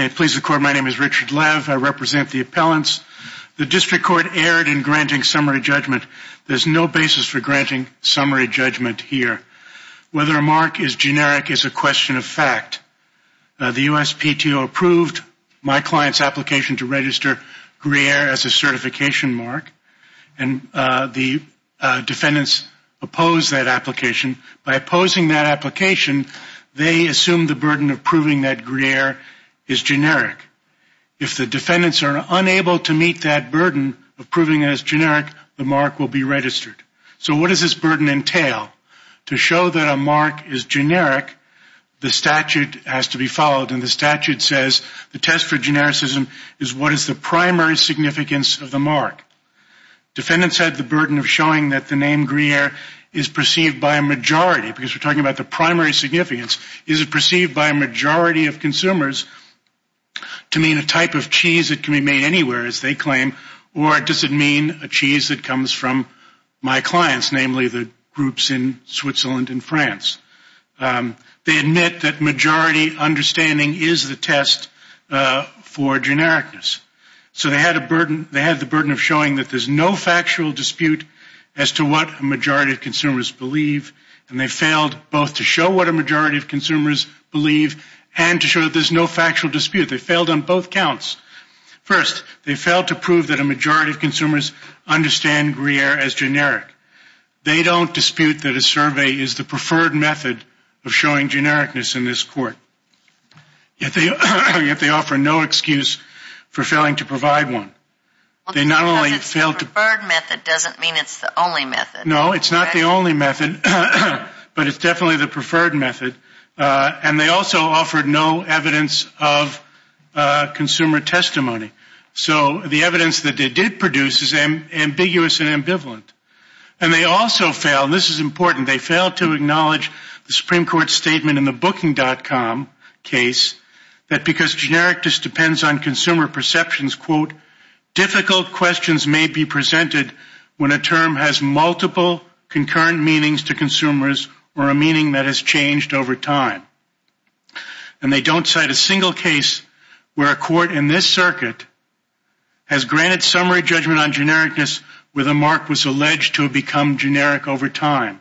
May it please the Court, my name is Richard Lev. I represent the appellants. The District Court erred in granting summary judgment. There is no basis for granting summary judgment here. Whether a mark is generic is a question of fact. The USPTO approved my client's application to register Gruyere as a certification mark, and the defendants opposed that application. By opposing that application, they assumed the burden of proving that Gruyere is generic. If the defendants are unable to meet that burden of proving it as generic, the mark will be registered. So what does this burden entail? To show that a mark is generic, the statute has to be followed, and the statute says the test for genericism is what is the primary significance of the mark. Defendants had the burden of showing that the name Gruyere is perceived by a majority, because we are talking about the primary significance, is it perceived by a majority of consumers to mean a type of cheese that can be made anywhere, as they claim, or does it mean a cheese that comes from my clients, namely the groups in Switzerland and France. They admit that majority understanding is the test for genericness. So they had the burden of showing that there is no factual dispute as to what a majority of consumers believe, and they failed both to show what a majority of consumers believe and to show that there is no factual dispute. They failed on both counts. First, they failed to prove that a majority of consumers understand Gruyere as generic. They don't dispute that a survey is the preferred method of showing genericness in this court. Yet they offer no excuse for failing to provide one. They not only failed to... It's not the only method, but it's definitely the preferred method. And they also offered no evidence of consumer testimony. So the evidence that they did produce is ambiguous and ambivalent. And they also failed, and this is important, they failed to acknowledge the Supreme Court statement in the Booking.com case that because genericness depends on consumer to consumers or a meaning that has changed over time. And they don't cite a single case where a court in this circuit has granted summary judgment on genericness where the mark was alleged to have become generic over time.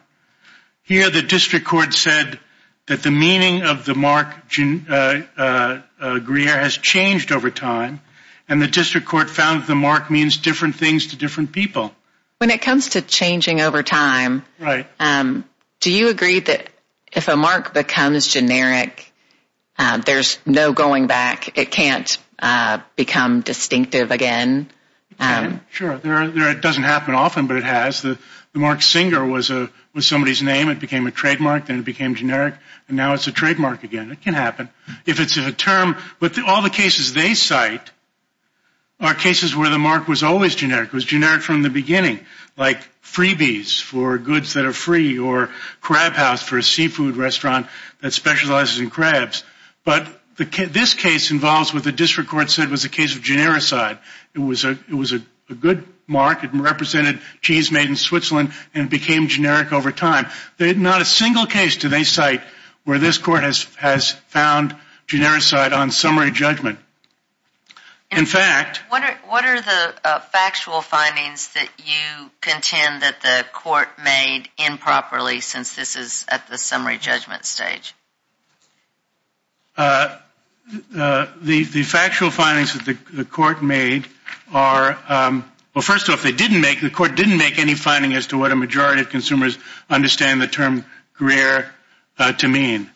Here the district court said that the meaning of the mark Gruyere has changed over time, and the district court found that the mark means different things to different people. When it comes to changing over time, do you agree that if a mark becomes generic, there's no going back? It can't become distinctive again? Sure. It doesn't happen often, but it has. The mark Singer was somebody's name. It became a trademark, then it became generic, and now it's a trademark again. It can happen. If it's a term... But all the cases they cite are cases where the mark was always generic. It was generic from the beginning, like freebies for goods that are free or crab house for a seafood restaurant that specializes in crabs. But this case involves what the district court said was a case of genericity. It was a good mark. It represented cheese made in Switzerland and became generic over time. Not a single case do they cite where this court has found genericity on summary judgment. In fact... What are the factual findings that you contend that the court made improperly since this is at the summary judgment stage? The factual findings that the court made are... Well, first off, they didn't make... The court didn't make any finding as to what a majority of consumers understand the term Gruyere to mean.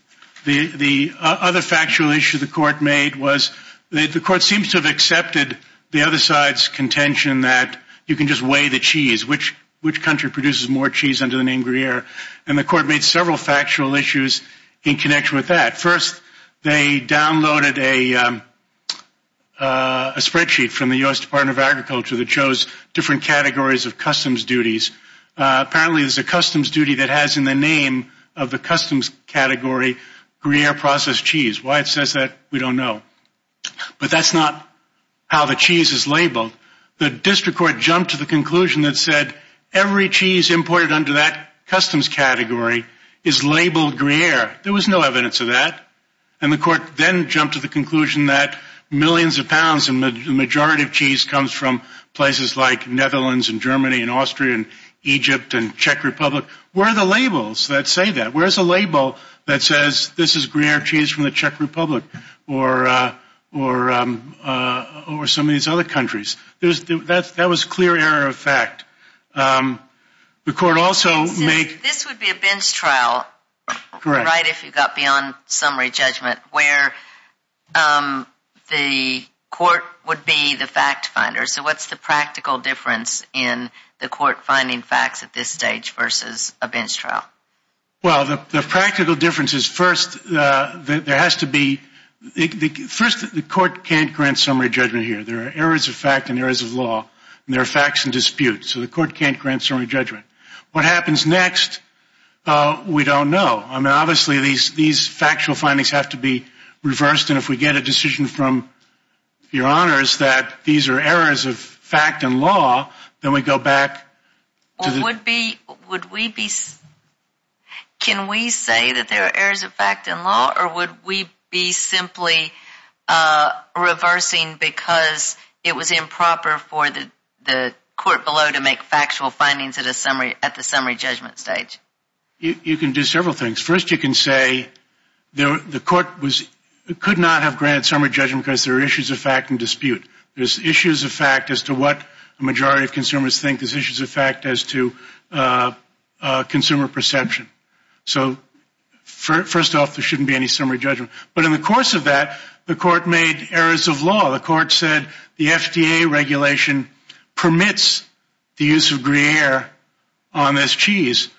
The other factual issue the court made was that the court seems to have accepted the other side's contention that you can just weigh the cheese. Which country produces more cheese under the name Gruyere? And the court made several factual issues in connection with that. First, they downloaded a spreadsheet from the U.S. Department of Agriculture that shows different categories of customs duties. Apparently, there's a customs duty that has in the name of the customs category Gruyere processed cheese. Why it says that, we don't know. But that's not how the cheese is labeled. The district court jumped to the conclusion that said every cheese imported under that customs category is labeled Gruyere. There was no evidence of that. And the court then jumped to the conclusion that millions of pounds and the majority of cheese comes from places like Netherlands and Germany and Austria and Egypt and Czech Republic. Where are the labels that say that? Where's the label that says this is Gruyere cheese from the Czech Republic or some of these other countries? That was clear error of fact. The court also made... This would be a bench trial, right, if you got beyond summary judgment, where the court would be the fact finder. So what's the practical difference in the court finding facts at this stage versus a bench trial? Well, the practical difference is first, there has to be... First, the court can't grant summary judgment here. There are errors of fact and errors of law. And there are facts and disputes. So the court can't grant summary judgment. What happens next, we don't know. I mean, obviously, these factual findings have to be reversed. And if we get a decision from your honors that these are errors of fact and law, then we go back to the... Would we be... Can we say that there are errors of fact and law? Or would we be simply reversing because it was improper for the court below to make factual findings at the summary judgment stage? You can do several things. First, you can say the court could not have granted summary judgment because there are issues of fact and dispute. There's issues of fact as to what a majority of consumers think. There's issues of fact as to consumer perception. So first off, there shouldn't be any summary judgment. But in the course of that, the court made errors of law. The court said the FDA regulation permits the use of Gruyere on this cheese.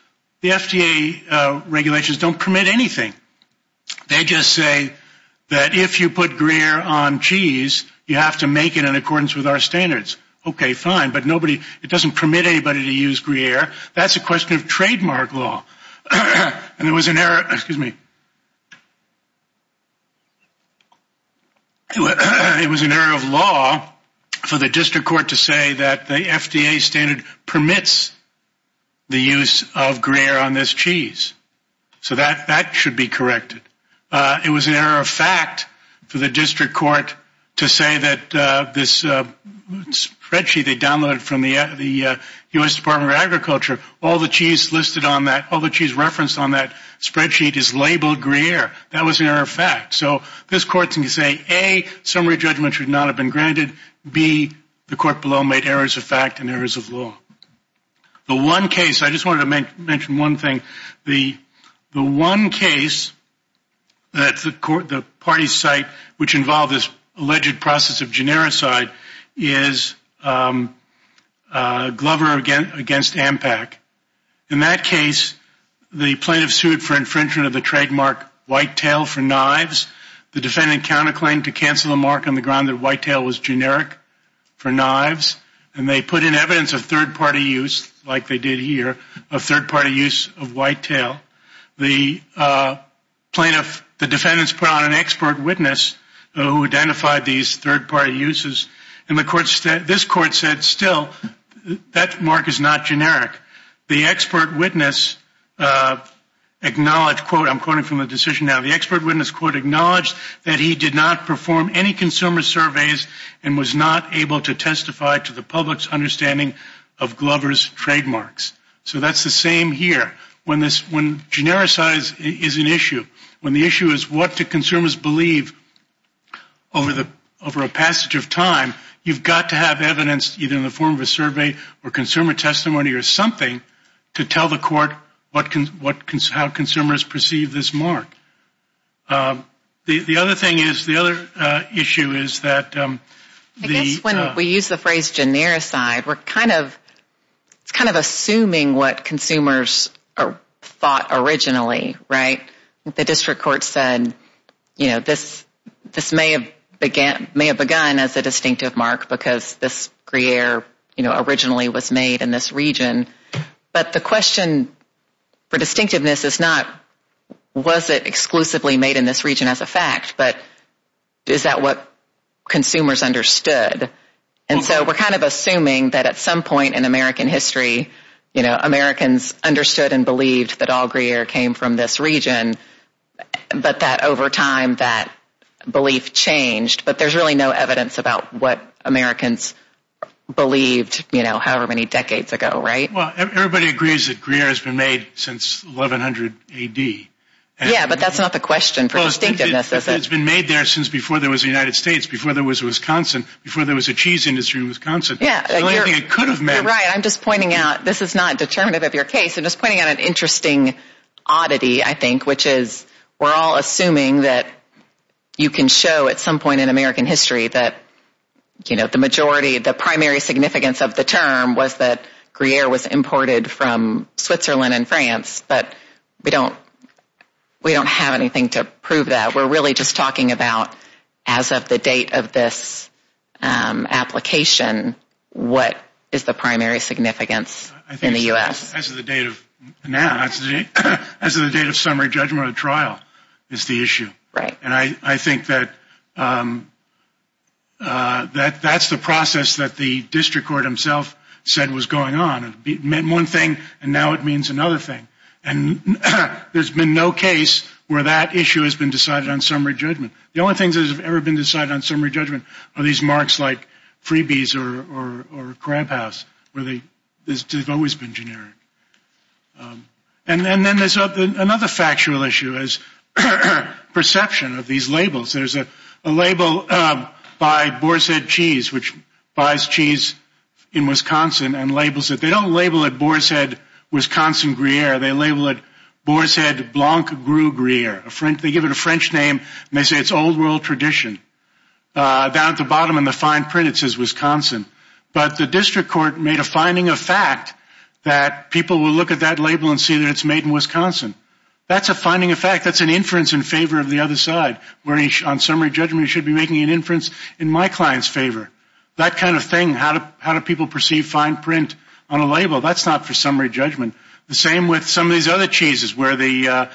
The FDA regulations don't permit anything. They just say that if you put Gruyere on cheese, you have to make it in accordance with our standards. Okay, fine. But nobody... It doesn't permit anybody to use Gruyere. That's a question of trademark law. And there was an error... Excuse me. It was an error of law for the district court to say that the FDA standard permits the use of Gruyere on this cheese. So that should be corrected. It was an error of fact for the district court to say that this spreadsheet they downloaded from the U.S. Department of Agriculture, all the cheese listed on that, all the cheese referenced on that spreadsheet is labeled Gruyere. That was an error of fact. So this court can say, A, summary judgment should not have been granted. B, the court below made errors of fact and errors of law. The one case... I just wanted to mention one thing. The one case that the party site, which involved this alleged process of genericide, is Glover against Ampac. In that case, the plaintiff sued for infringement of the trademark whitetail for knives. The defendant counterclaimed to cancel the mark on the ground that whitetail was generic for knives. And they put in evidence of third-party use, like they did here, of third-party use of whitetail. The plaintiff the defendants put on an expert witness who identified these third-party uses. And this court said, still, that mark is not generic. The expert witness acknowledged, I'm quoting from the decision now, the expert witness acknowledged that he did not perform any consumer surveys and was not able to testify to the public's understanding of Glover's trademarks. So that's the same here. When genericize is an issue, when the issue is what do consumers believe over a passage of time, you've got to have evidence either in the form of a survey or consumer testimony or something to tell the court how consumers perceive this mark. The other thing is, the other issue is that the I guess when we use the phrase genericize, we're kind of, it's kind of assuming what consumers thought originally, right? The district court said, you know, this may have begun as a distinctive mark because this gruyere, you know, originally was made in this region. But the question for distinctiveness is not, was it exclusively made in this region as a fact, but is that what consumers understood? And so we're kind of assuming that at some point in American history, you know, Americans understood and believed that all gruyere came from this region, but that over time that belief changed. But there's really no evidence about what Americans believed, you know, however many decades ago, right? Well, everybody agrees that gruyere has been made since 1100 A.D. Yeah, but that's not the question for distinctiveness, is it? It's been made there since before there was a United States, before there was a Wisconsin, before there was a cheese industry in Wisconsin. Yeah, you're right. I'm just pointing out, this is not determinative of your case. I'm just pointing out an interesting oddity, I think, which is we're all assuming that you can show at some point in American history that, you know, the majority, the primary significance of the term was that gruyere was imported from Switzerland and France, but we don't have anything to prove that. We're really just talking about as of the date of this application, what is the primary significance in the U.S.? As of the date of now, as of the date of summary judgment of trial is the issue. Right. And I think that that's the process that the district court himself said was going on. It meant one thing, and now it means another thing. And there's been no case where that issue has been decided on summary judgment. The only things that have ever been decided on summary judgment are these marks like freebies or crab house, where they've always been generic. And then there's another factual issue is perception of these labels. There's a label by Boar's Head Cheese, which buys cheese in Wisconsin and labels it. They don't label it Boar's Head Wisconsin Gruyere. They label it Boar's Head Blanc Gruyere. They give it a French name, and they say it's old world tradition. Down at the bottom in the fine print it says Wisconsin. But the district court made a finding of fact that people will look at that label and see that it's made in Wisconsin. That's a finding of fact. That's an inference in favor of the other side, where on summary judgment it should be making an inference in my client's favor. That kind of thing, how do people perceive fine print on a label? That's not for summary judgment. The same with some of these other cheeses, where the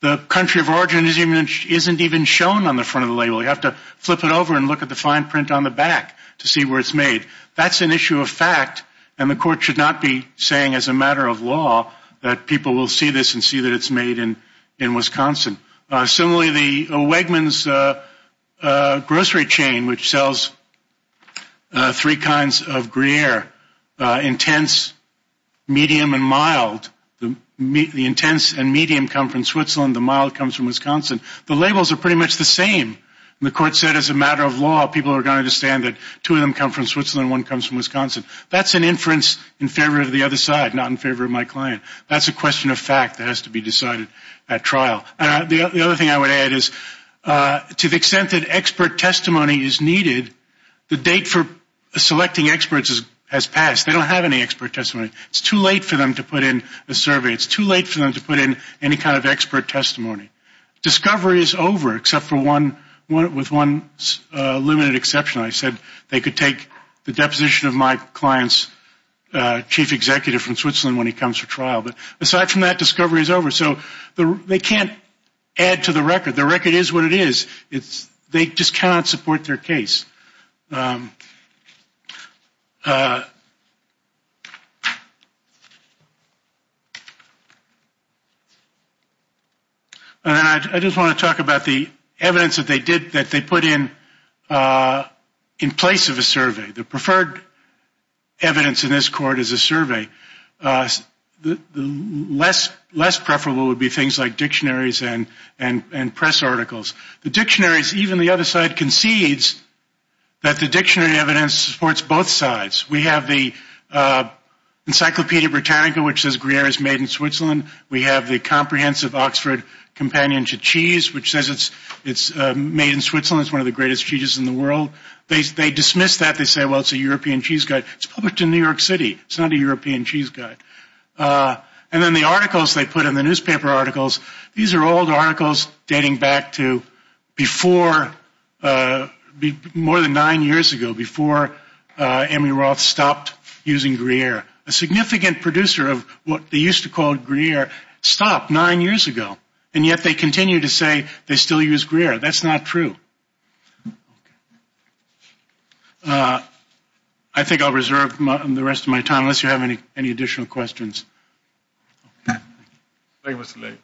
country of origin isn't even shown on the front of the label. You have to flip it over and look at the fine print on the back to see where it's made. That's an issue of fact, and the court should not be saying as a matter of law that people will see this and see that it's made in Wisconsin. Similarly, the Wegmans grocery chain, which sells three kinds of Gruyere, intense, medium, and mild. The intense and medium come from Switzerland. The mild comes from Wisconsin. The labels are pretty much the same. The court said as a matter of law, people are going to understand that two of them come from Switzerland and one comes from Wisconsin. That's an inference in favor of the other side, not in favor of my client. That's a question of fact that has to be decided at trial. The other thing I would add is to the extent that expert testimony is needed, the date for selecting experts has passed. They don't have any expert testimony. It's too late for them to put in a survey. It's too late for them to put in any kind of expert testimony. Discovery is over, except for one, with one limited exception. I said they could take the deposition of my client's chief executive from Switzerland when he comes for trial. But aside from that, discovery is over. So they can't add to the record. The record is what it is. They just cannot support their case. I just want to talk about the evidence that they put in in place of a survey. The preferred evidence in this court is a survey. Less preferable would be things like dictionaries and press articles. The dictionaries, even the other side concedes that the dictionary evidence supports both sides. We have the Encyclopedia Britannica, which says Gruyere is made in Switzerland. We have the Comprehensive Oxford Companion to Cheese, which says it's made in Switzerland. It's one of the greatest cheeses in the world. They dismiss that. They say, well, it's a European cheese guide. It's published in New York City. It's not a European cheese guide. And then the articles they put in the newspaper articles, these are old articles dating back to before, more than nine years ago, before Amy Roth stopped using Gruyere. A significant producer of what they used to call Gruyere stopped nine years ago. And yet they continue to say they still use Gruyere. That's not true. Okay. I think I'll reserve the rest of my time unless you have any additional questions. Okay. Thank you, Mr. Lee.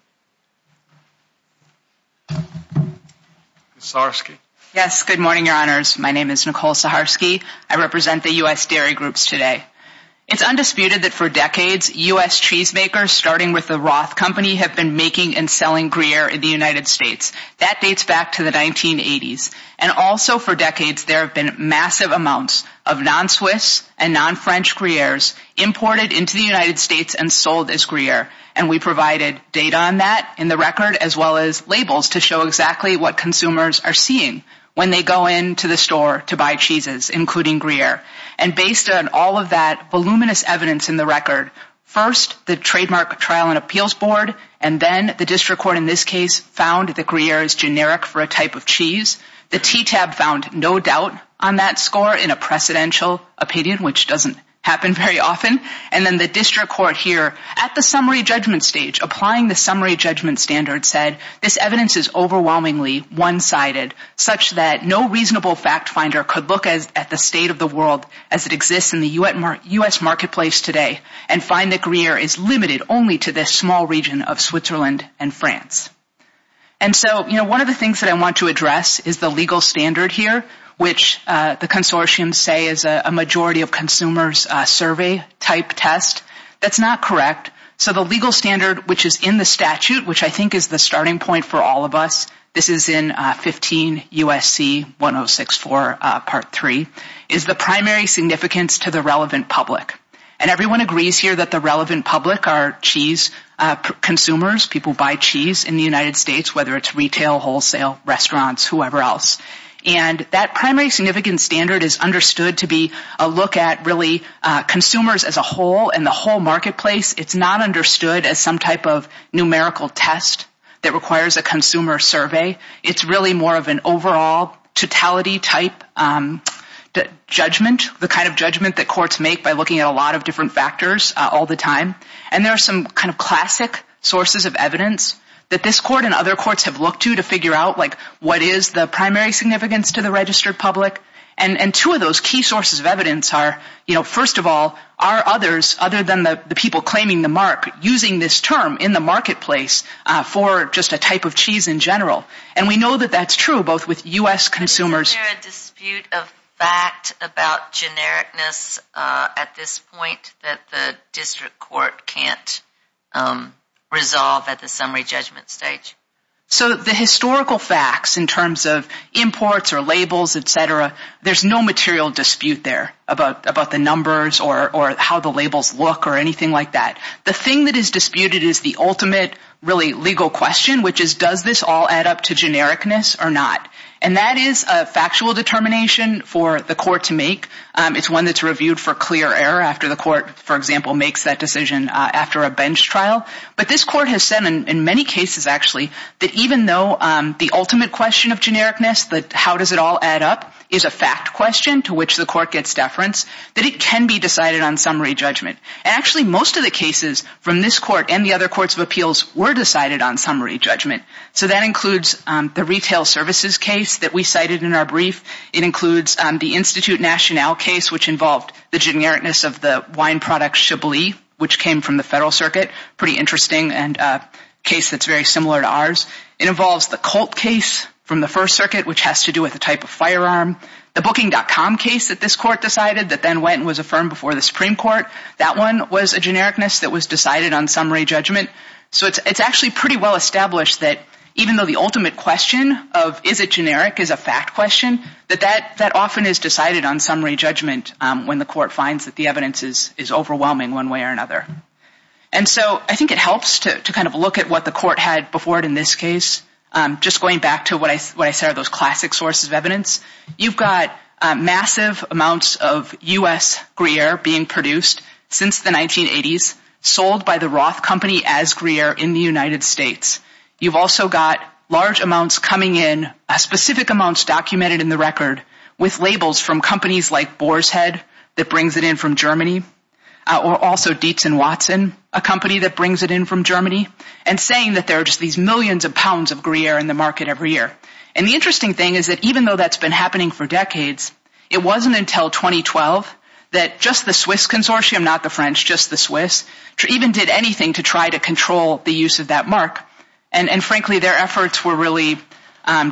Saharsky. Yes. Good morning, Your Honors. My name is Nicole Saharsky. I represent the U.S. Dairy Groups today. It's undisputed that for decades U.S. cheese makers, starting with the Roth Company, have been making and selling Gruyere in the United States. That dates back to the 1980s. And also for decades there have been massive amounts of non-Swiss and non-French Gruyeres imported into the United States and sold as Gruyere. And we provided data on that in the record, as well as labels to show exactly what consumers are seeing when they go into the store to buy cheeses, including Gruyere. And based on all of that voluminous evidence in the record, first the Trademark Trial and Appeals Board, and then the district court in this case found that Gruyere is generic for a type of cheese. The TTAB found no doubt on that score in a precedential opinion, which doesn't happen very often. And then the district court here at the summary judgment stage, applying the summary judgment standard, said this evidence is overwhelmingly one-sided, such that no reasonable fact finder could look at the state of the world as it exists in the U.S. marketplace today and find that Gruyere is limited only to this small region of Switzerland and France. And so, you know, one of the things that I want to address is the legal standard here, which the consortiums say is a majority of consumers survey type test. That's not correct. So the legal standard, which is in the statute, which I think is the starting point for all of us, this is in 15 U.S.C. 1064 Part 3, is the primary significance to the relevant public. And everyone agrees here that the relevant public are cheese consumers, people who buy cheese in the United States, whether it's retail, wholesale, restaurants, whoever else. And that primary significance standard is understood to be a look at, really, consumers as a whole and the whole marketplace. It's not understood as some type of numerical test that requires a consumer survey. It's really more of an overall totality type judgment, the kind of judgment that courts make by looking at a lot of different factors all the time. And there are some kind of classic sources of evidence that this court and other courts have looked to to figure out, like, what is the primary significance to the registered public. And two of those key sources of evidence are, you know, first of all, are others, other than the people claiming the mark, using this term in the marketplace for just a type of cheese in general. And we know that that's true, both with U.S. consumers. Is there a dispute of fact about genericness at this point that the district court can't resolve at the summary judgment stage? So the historical facts in terms of imports or labels, et cetera, there's no material dispute there about the numbers or how the labels look or anything like that. The thing that is disputed is the ultimate, really, legal question, which is does this all add up to genericness or not. And that is a factual determination for the court to make. It's one that's reviewed for clear error after the court, for example, makes that decision after a bench trial. But this court has said in many cases, actually, that even though the ultimate question of genericness, that how does it all add up, is a fact question to which the court gets deference, that it can be decided on summary judgment. And actually most of the cases from this court and the other courts of appeals were decided on summary judgment. So that includes the retail services case that we cited in our brief. It includes the Institute Nationale case, which involved the genericness of the wine product Chablis, which came from the Federal Circuit, pretty interesting and a case that's very similar to ours. It involves the Colt case from the First Circuit, which has to do with the type of firearm. The Booking.com case that this court decided that then went and was affirmed before the Supreme Court, that one was a genericness that was decided on summary judgment. So it's actually pretty well established that even though the ultimate question of is it generic is a fact question, that that often is decided on summary judgment when the court finds that the evidence is overwhelming one way or another. And so I think it helps to kind of look at what the court had before it in this case. Just going back to what I said are those classic sources of evidence, you've got massive amounts of U.S. Gruyere being produced since the 1980s, sold by the Roth Company as Gruyere in the United States. You've also got large amounts coming in, specific amounts documented in the record, with labels from companies like Boershead that brings it in from Germany, or also Dietzen-Watson, a company that brings it in from Germany, and saying that there are just these millions of pounds of Gruyere in the market every year. And the interesting thing is that even though that's been happening for decades, it wasn't until 2012 that just the Swiss consortium, not the French, just the Swiss, even did anything to try to control the use of that mark. And frankly, their efforts were really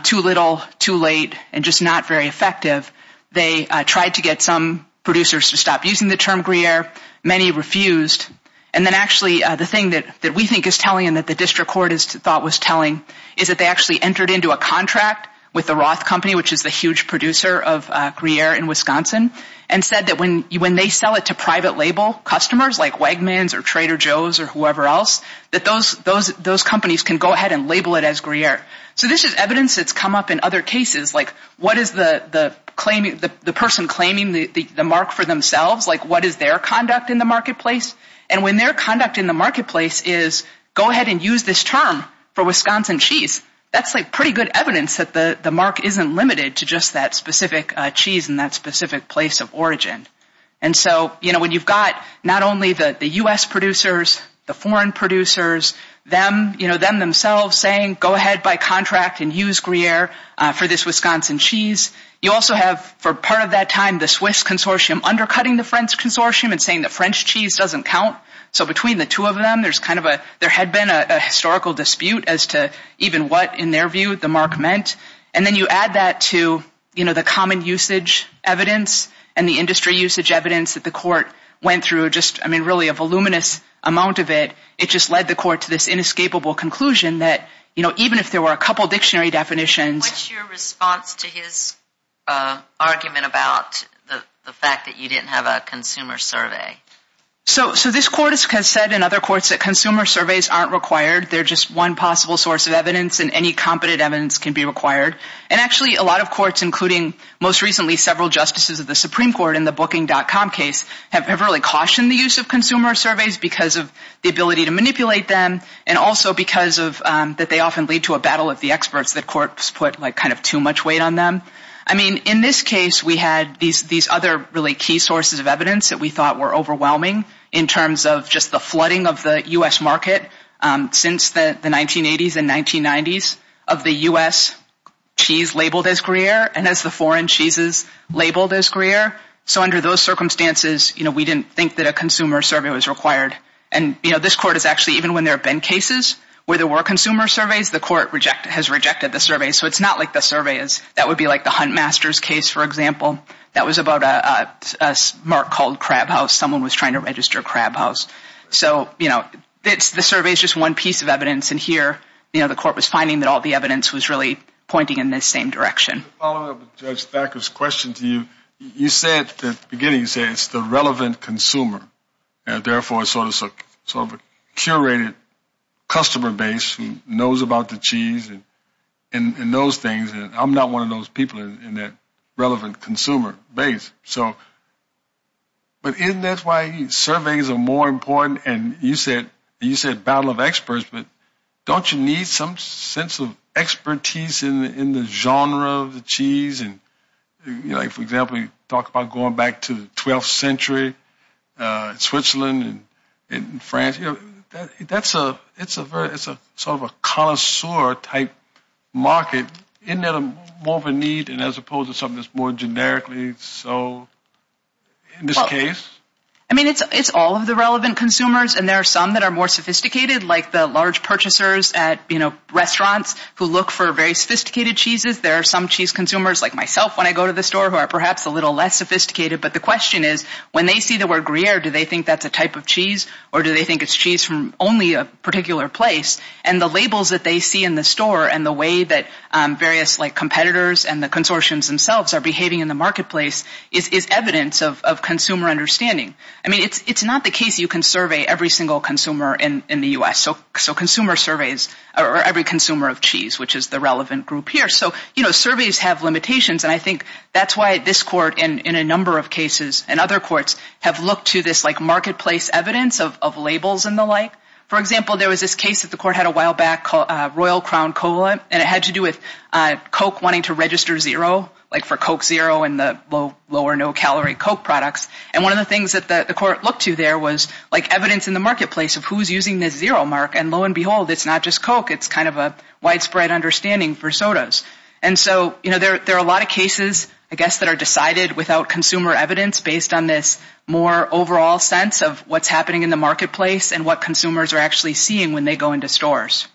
too little, too late, and just not very effective. They tried to get some producers to stop using the term Gruyere. Many refused. And then actually the thing that we think is telling and that the district court thought was telling is that they actually entered into a contract with the Roth Company, which is the huge producer of Gruyere in Wisconsin, and said that when they sell it to private label customers, like Wegmans or Trader Joe's or whoever else, that those companies can go ahead and label it as Gruyere. So this is evidence that's come up in other cases, like what is the person claiming the mark for themselves, like what is their conduct in the marketplace? And when their conduct in the marketplace is, go ahead and use this term for Wisconsin cheese, that's pretty good evidence that the mark isn't limited to just that specific cheese in that specific place of origin. And so, you know, when you've got not only the U.S. producers, the foreign producers, them, you know, them themselves saying, go ahead by contract and use Gruyere for this Wisconsin cheese, you also have, for part of that time, the Swiss consortium undercutting the French consortium and saying that French cheese doesn't count. So between the two of them, there's kind of a, there had been a historical dispute as to even what, in their view, the mark meant. And then you add that to, you know, the common usage evidence and the industry usage evidence that the court went through, just, I mean, really a voluminous amount of it. It just led the court to this inescapable conclusion that, you know, even if there were a couple dictionary definitions. What's your response to his argument about the fact that you didn't have a consumer survey? So this court has said in other courts that consumer surveys aren't required. They're just one possible source of evidence, and any competent evidence can be required. And actually, a lot of courts, including most recently several justices of the Supreme Court in the Booking.com case, have really cautioned the use of consumer surveys because of the ability to manipulate them and also because of that they often lead to a battle of the experts that courts put, like, kind of too much weight on them. I mean, in this case, we had these other really key sources of evidence that we thought were overwhelming in terms of just the flooding of the U.S. market since the 1980s and 1990s of the U.S. cheese labeled as Gruyere and as the foreign cheeses labeled as Gruyere. So under those circumstances, you know, we didn't think that a consumer survey was required. And, you know, this court has actually, even when there have been cases where there were consumer surveys, the court has rejected the survey. So it's not like the survey is, that would be like the Hunt Masters case, for example. That was about a mark called Crab House. Someone was trying to register Crab House. So, you know, the survey is just one piece of evidence. And here, you know, the court was finding that all the evidence was really pointing in the same direction. To follow up with Judge Thacker's question to you, you said at the beginning, you said it's the relevant consumer and, therefore, it's sort of a curated customer base who knows about the cheese and those things. I'm not one of those people in that relevant consumer base. But isn't that why surveys are more important? And you said battle of experts, but don't you need some sense of expertise in the genre of the cheese? And, you know, for example, you talk about going back to the 12th century, Switzerland and France. You know, it's sort of a connoisseur type market. Isn't that more of a need as opposed to something that's more generically so in this case? I mean, it's all of the relevant consumers. And there are some that are more sophisticated, like the large purchasers at, you know, restaurants who look for very sophisticated cheeses. There are some cheese consumers, like myself, when I go to the store, who are perhaps a little less sophisticated. But the question is, when they see the word gruyere, do they think that's a type of cheese? Or do they think it's cheese from only a particular place? And the labels that they see in the store and the way that various, like, competitors and the consortiums themselves are behaving in the marketplace is evidence of consumer understanding. I mean, it's not the case you can survey every single consumer in the U.S. So consumer surveys are every consumer of cheese, which is the relevant group here. So, you know, surveys have limitations. And I think that's why this court and a number of cases and other courts have looked to this, like, marketplace evidence of labels and the like. For example, there was this case that the court had a while back called Royal Crown Cola, and it had to do with Coke wanting to register zero, like for Coke Zero and the low or no calorie Coke products. And one of the things that the court looked to there was, like, evidence in the marketplace of who's using this zero mark, and lo and behold, it's not just Coke. It's kind of a widespread understanding for sodas. And so, you know, there are a lot of cases, I guess, that are decided without consumer evidence based on this more overall sense of what's happening in the marketplace and what consumers are actually seeing when they go into stores.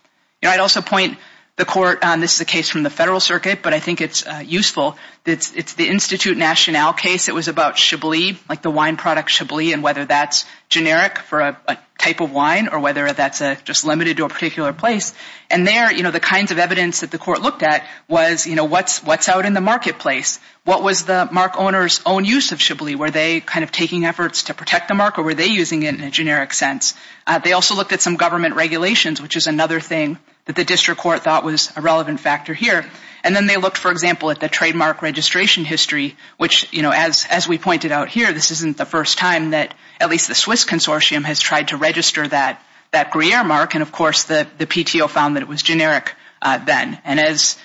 You know, I'd also point the court, and this is a case from the Federal Circuit, but I think it's useful, it's the Institute Nationale case that was about Chablis, like the wine product Chablis and whether that's generic for a type of wine or whether that's just limited to a particular place. And there, you know, the kinds of evidence that the court looked at was, you know, what's out in the marketplace? What was the mark owner's own use of Chablis? Were they kind of taking efforts to protect the mark or were they using it in a generic sense? They also looked at some government regulations, which is another thing that the district court thought was a relevant factor here. And then they looked, for example, at the trademark registration history, which, you know, as we pointed out here, this isn't the first time that at least the Swiss Consortium has tried to register that Gruyere mark. And, of course, the PTO found that it was generic then. And as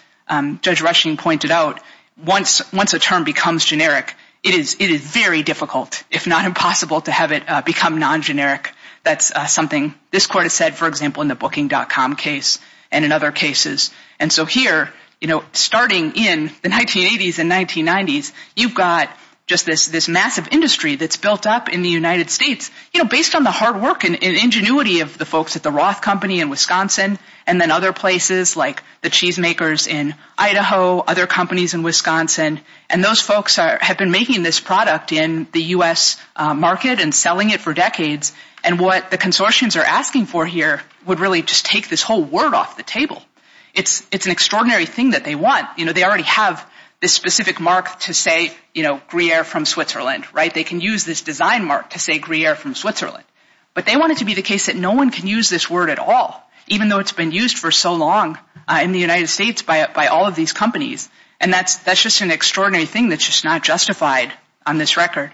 Judge Rushing pointed out, once a term becomes generic, it is very difficult, if not impossible, to have it become non-generic. That's something this court has said, for example, in the Booking.com case and in other cases. And so here, you know, starting in the 1980s and 1990s, you've got just this massive industry that's built up in the United States, you know, based on the hard work and ingenuity of the folks at the Roth Company in Wisconsin and then other places like the cheesemakers in Idaho, other companies in Wisconsin. And those folks have been making this product in the U.S. market and selling it for decades. And what the consortiums are asking for here would really just take this whole word off the table. It's an extraordinary thing that they want. You know, they already have this specific mark to say, you know, Gruyere from Switzerland, right? They can use this design mark to say Gruyere from Switzerland. But they want it to be the case that no one can use this word at all, even though it's been used for so long in the United States by all of these companies. And that's just an extraordinary thing that's just not justified on this record.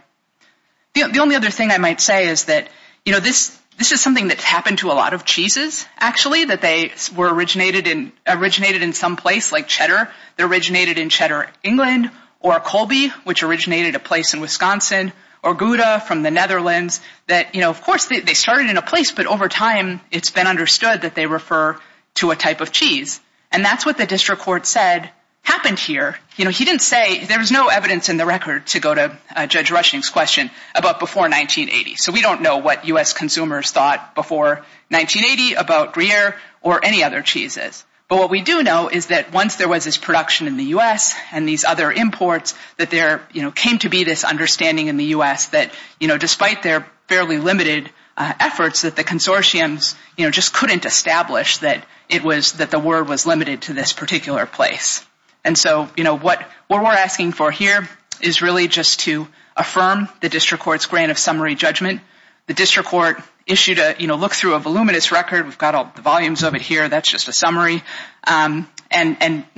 The only other thing I might say is that, you know, this is something that's happened to a lot of cheeses, actually, that they were originated in some place like cheddar. They originated in Cheddar, England, or Colby, which originated a place in Wisconsin, or Gouda from the Netherlands that, you know, of course they started in a place, but over time it's been understood that they refer to a type of cheese. And that's what the district court said happened here. You know, he didn't say there was no evidence in the record to go to Judge Rushing's question about before 1980. So we don't know what U.S. consumers thought before 1980 about Gruyere or any other cheeses. But what we do know is that once there was this production in the U.S. and these other imports, that there, you know, came to be this understanding in the U.S. that, you know, despite their fairly limited efforts, that the consortiums, you know, just couldn't establish that it was that the word was limited to this particular place. And so, you know, what we're asking for here is really just to affirm the district court's grant of summary judgment. The district court issued a, you know, look through a voluminous record. We've got all the volumes of it here. That's just a summary. And went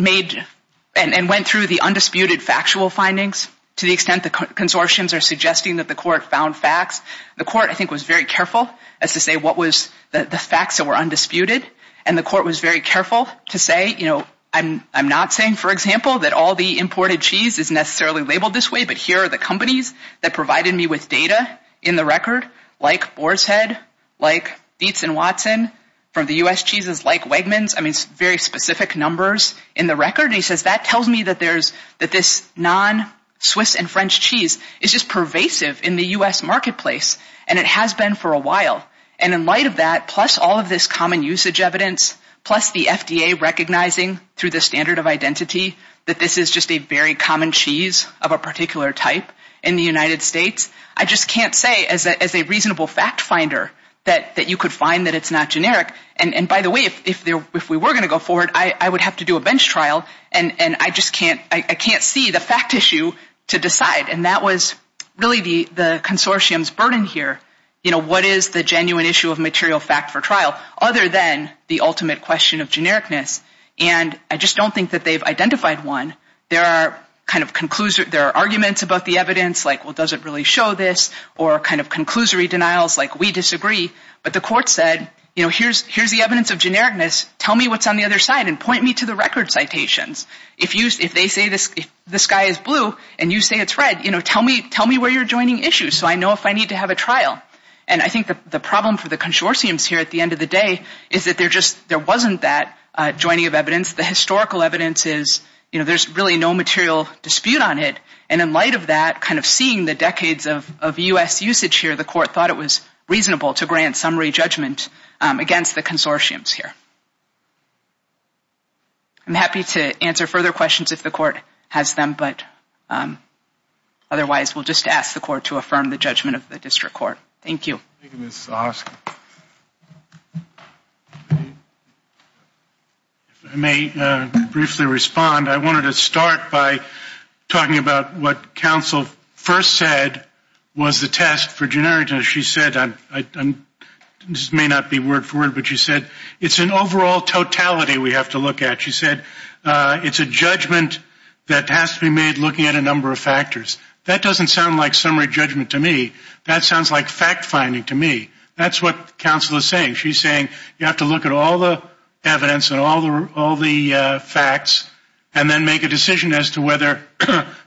through the undisputed factual findings to the extent the consortiums are suggesting that the court found facts. The court, I think, was very careful as to say what was the facts that were undisputed. And the court was very careful to say, you know, I'm not saying, for example, that all the imported cheese is necessarily labeled this way, but here are the companies that provided me with data in the record, like Boar's Head, like Dietz and Watson, from the U.S. cheeses, like Wegmans. I mean, very specific numbers in the record. And he says that tells me that there's, that this non-Swiss and French cheese is just pervasive in the U.S. marketplace. And it has been for a while. And in light of that, plus all of this common usage evidence, plus the FDA recognizing through the standard of identity that this is just a very common cheese of a particular type in the United States, I just can't say as a reasonable fact finder that you could find that it's not generic. And by the way, if we were going to go forward, I would have to do a bench trial. And I just can't, I can't see the fact issue to decide. And that was really the consortium's burden here, you know, what is the genuine issue of material fact for trial other than the ultimate question of genericness. And I just don't think that they've identified one. There are arguments about the evidence, like, well, does it really show this, or kind of conclusory denials, like, we disagree. But the court said, you know, here's the evidence of genericness. Tell me what's on the other side and point me to the record citations. If they say the sky is blue and you say it's red, you know, tell me where you're joining issues so I know if I need to have a trial. And I think the problem for the consortiums here at the end of the day is that there just, there wasn't that joining of evidence. The historical evidence is, you know, there's really no material dispute on it. And in light of that, kind of seeing the decades of U.S. usage here, the court thought it was reasonable to grant summary judgment against the consortiums here. I'm happy to answer further questions if the court has them, but otherwise we'll just ask the court to affirm the judgment of the district court. Thank you. I may briefly respond. I wanted to start by talking about what counsel first said was the test for genericness. She said, this may not be word for word, but she said, it's an overall totality we have to look at. She said, it's a judgment that has to be made looking at a number of factors. That doesn't sound like summary judgment to me. That sounds like fact finding to me. That's what counsel is saying. She's saying you have to look at all the evidence and all the facts and then make a decision as to whether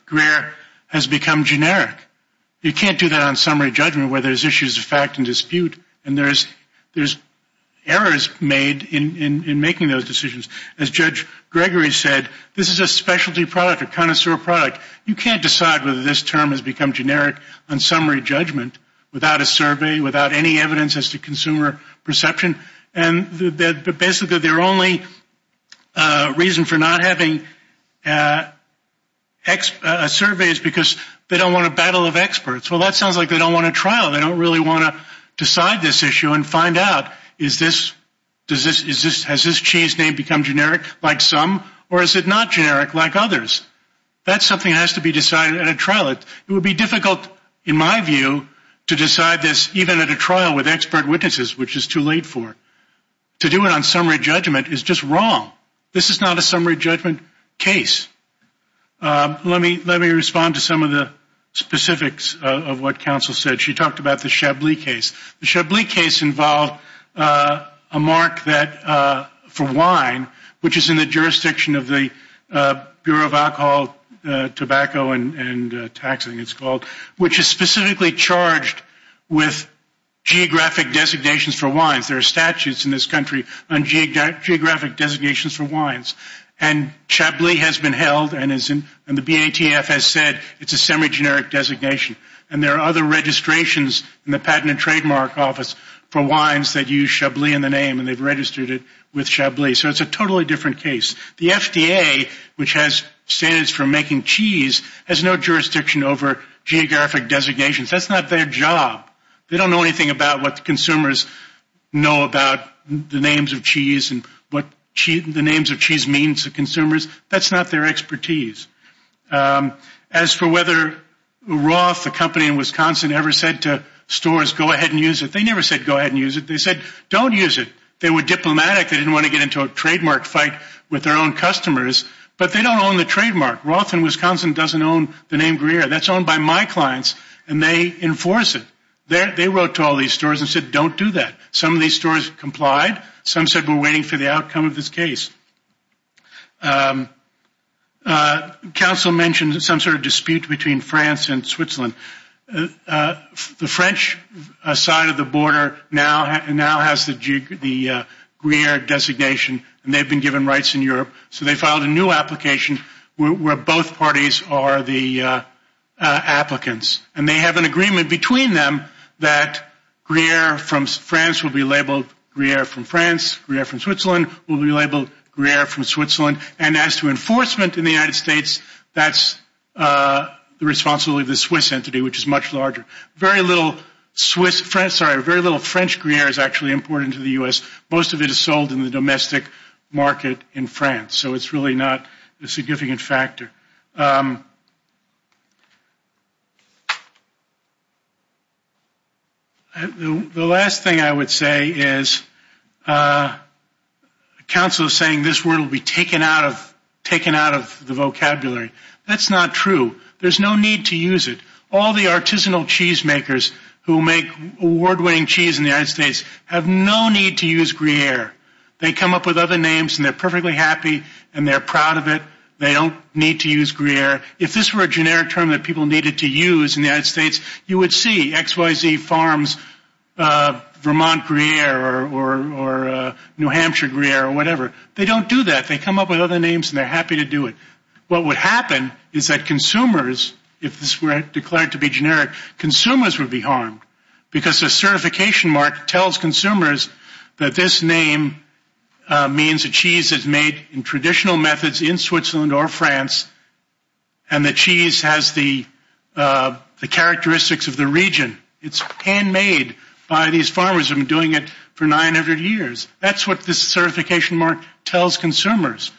Greer has become generic. You can't do that on summary judgment where there's issues of fact and dispute and there's errors made in making those decisions. As Judge Gregory said, this is a specialty product, a connoisseur product. You can't decide whether this term has become generic on summary judgment without a survey, without any evidence as to consumer perception. Basically, their only reason for not having a survey is because they don't want a battle of experts. Well, that sounds like they don't want a trial. They don't really want to decide this issue and find out, has this cheese name become generic like some or is it not generic like others? It would be difficult, in my view, to decide this even at a trial with expert witnesses, which is too late for it. To do it on summary judgment is just wrong. This is not a summary judgment case. Let me respond to some of the specifics of what counsel said. She talked about the Chablis case. The Chablis case involved a mark for wine, which is in the jurisdiction of the Bureau of Alcohol, Tobacco, and Taxing, it's called, which is specifically charged with geographic designations for wines. There are statutes in this country on geographic designations for wines. And Chablis has been held, and the BATF has said it's a semi-generic designation. And there are other registrations in the Patent and Trademark Office for wines that use Chablis in the name, and they've registered it with Chablis. So it's a totally different case. The FDA, which has standards for making cheese, has no jurisdiction over geographic designations. That's not their job. They don't know anything about what consumers know about the names of cheese and what the names of cheese means to consumers. That's not their expertise. As for whether Roth, the company in Wisconsin, ever said to stores, go ahead and use it, they never said go ahead and use it. They said don't use it. They were diplomatic. They didn't want to get into a trademark fight with their own customers. But they don't own the trademark. Roth in Wisconsin doesn't own the name Greer. That's owned by my clients, and they enforce it. They wrote to all these stores and said don't do that. Some of these stores complied. Some said we're waiting for the outcome of this case. Council mentioned some sort of dispute between France and Switzerland. The French side of the border now has the Greer designation, and they've been given rights in Europe. So they filed a new application where both parties are the applicants. And they have an agreement between them that Greer from France will be labeled Greer from France. Greer from Switzerland will be labeled Greer from Switzerland. And as to enforcement in the United States, that's the responsibility of the Swiss entity, which is much larger. Very little French Greer is actually imported into the U.S. Most of it is sold in the domestic market in France. So it's really not a significant factor. The last thing I would say is council is saying this word will be taken out of the vocabulary. That's not true. There's no need to use it. All the artisanal cheese makers who make award-winning cheese in the United States have no need to use Greer. They come up with other names, and they're perfectly happy, and they're proud of it. They don't need to use Greer. If this were a generic term that people needed to use in the United States, you would see XYZ Farms Vermont Greer or New Hampshire Greer or whatever. They don't do that. They come up with other names, and they're happy to do it. What would happen is that consumers, if this were declared to be generic, consumers would be harmed because the certification mark tells consumers that this name means the cheese is made in traditional methods in Switzerland or France, and the cheese has the characteristics of the region. It's handmade by these farmers who have been doing it for 900 years. That's what this certification mark tells consumers.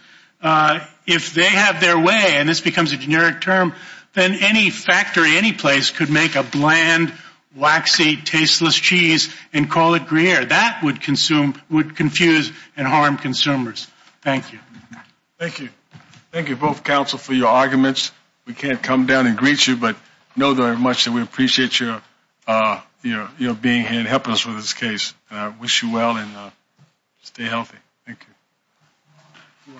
If they have their way, and this becomes a generic term, then any factory, any place could make a bland, waxy, tasteless cheese and call it Greer. That would confuse and harm consumers. Thank you. Thank you. Thank you both, counsel, for your arguments. We can't come down and greet you, but know very much that we appreciate your being here and helping us with this case. I wish you well, and stay healthy. Thank you.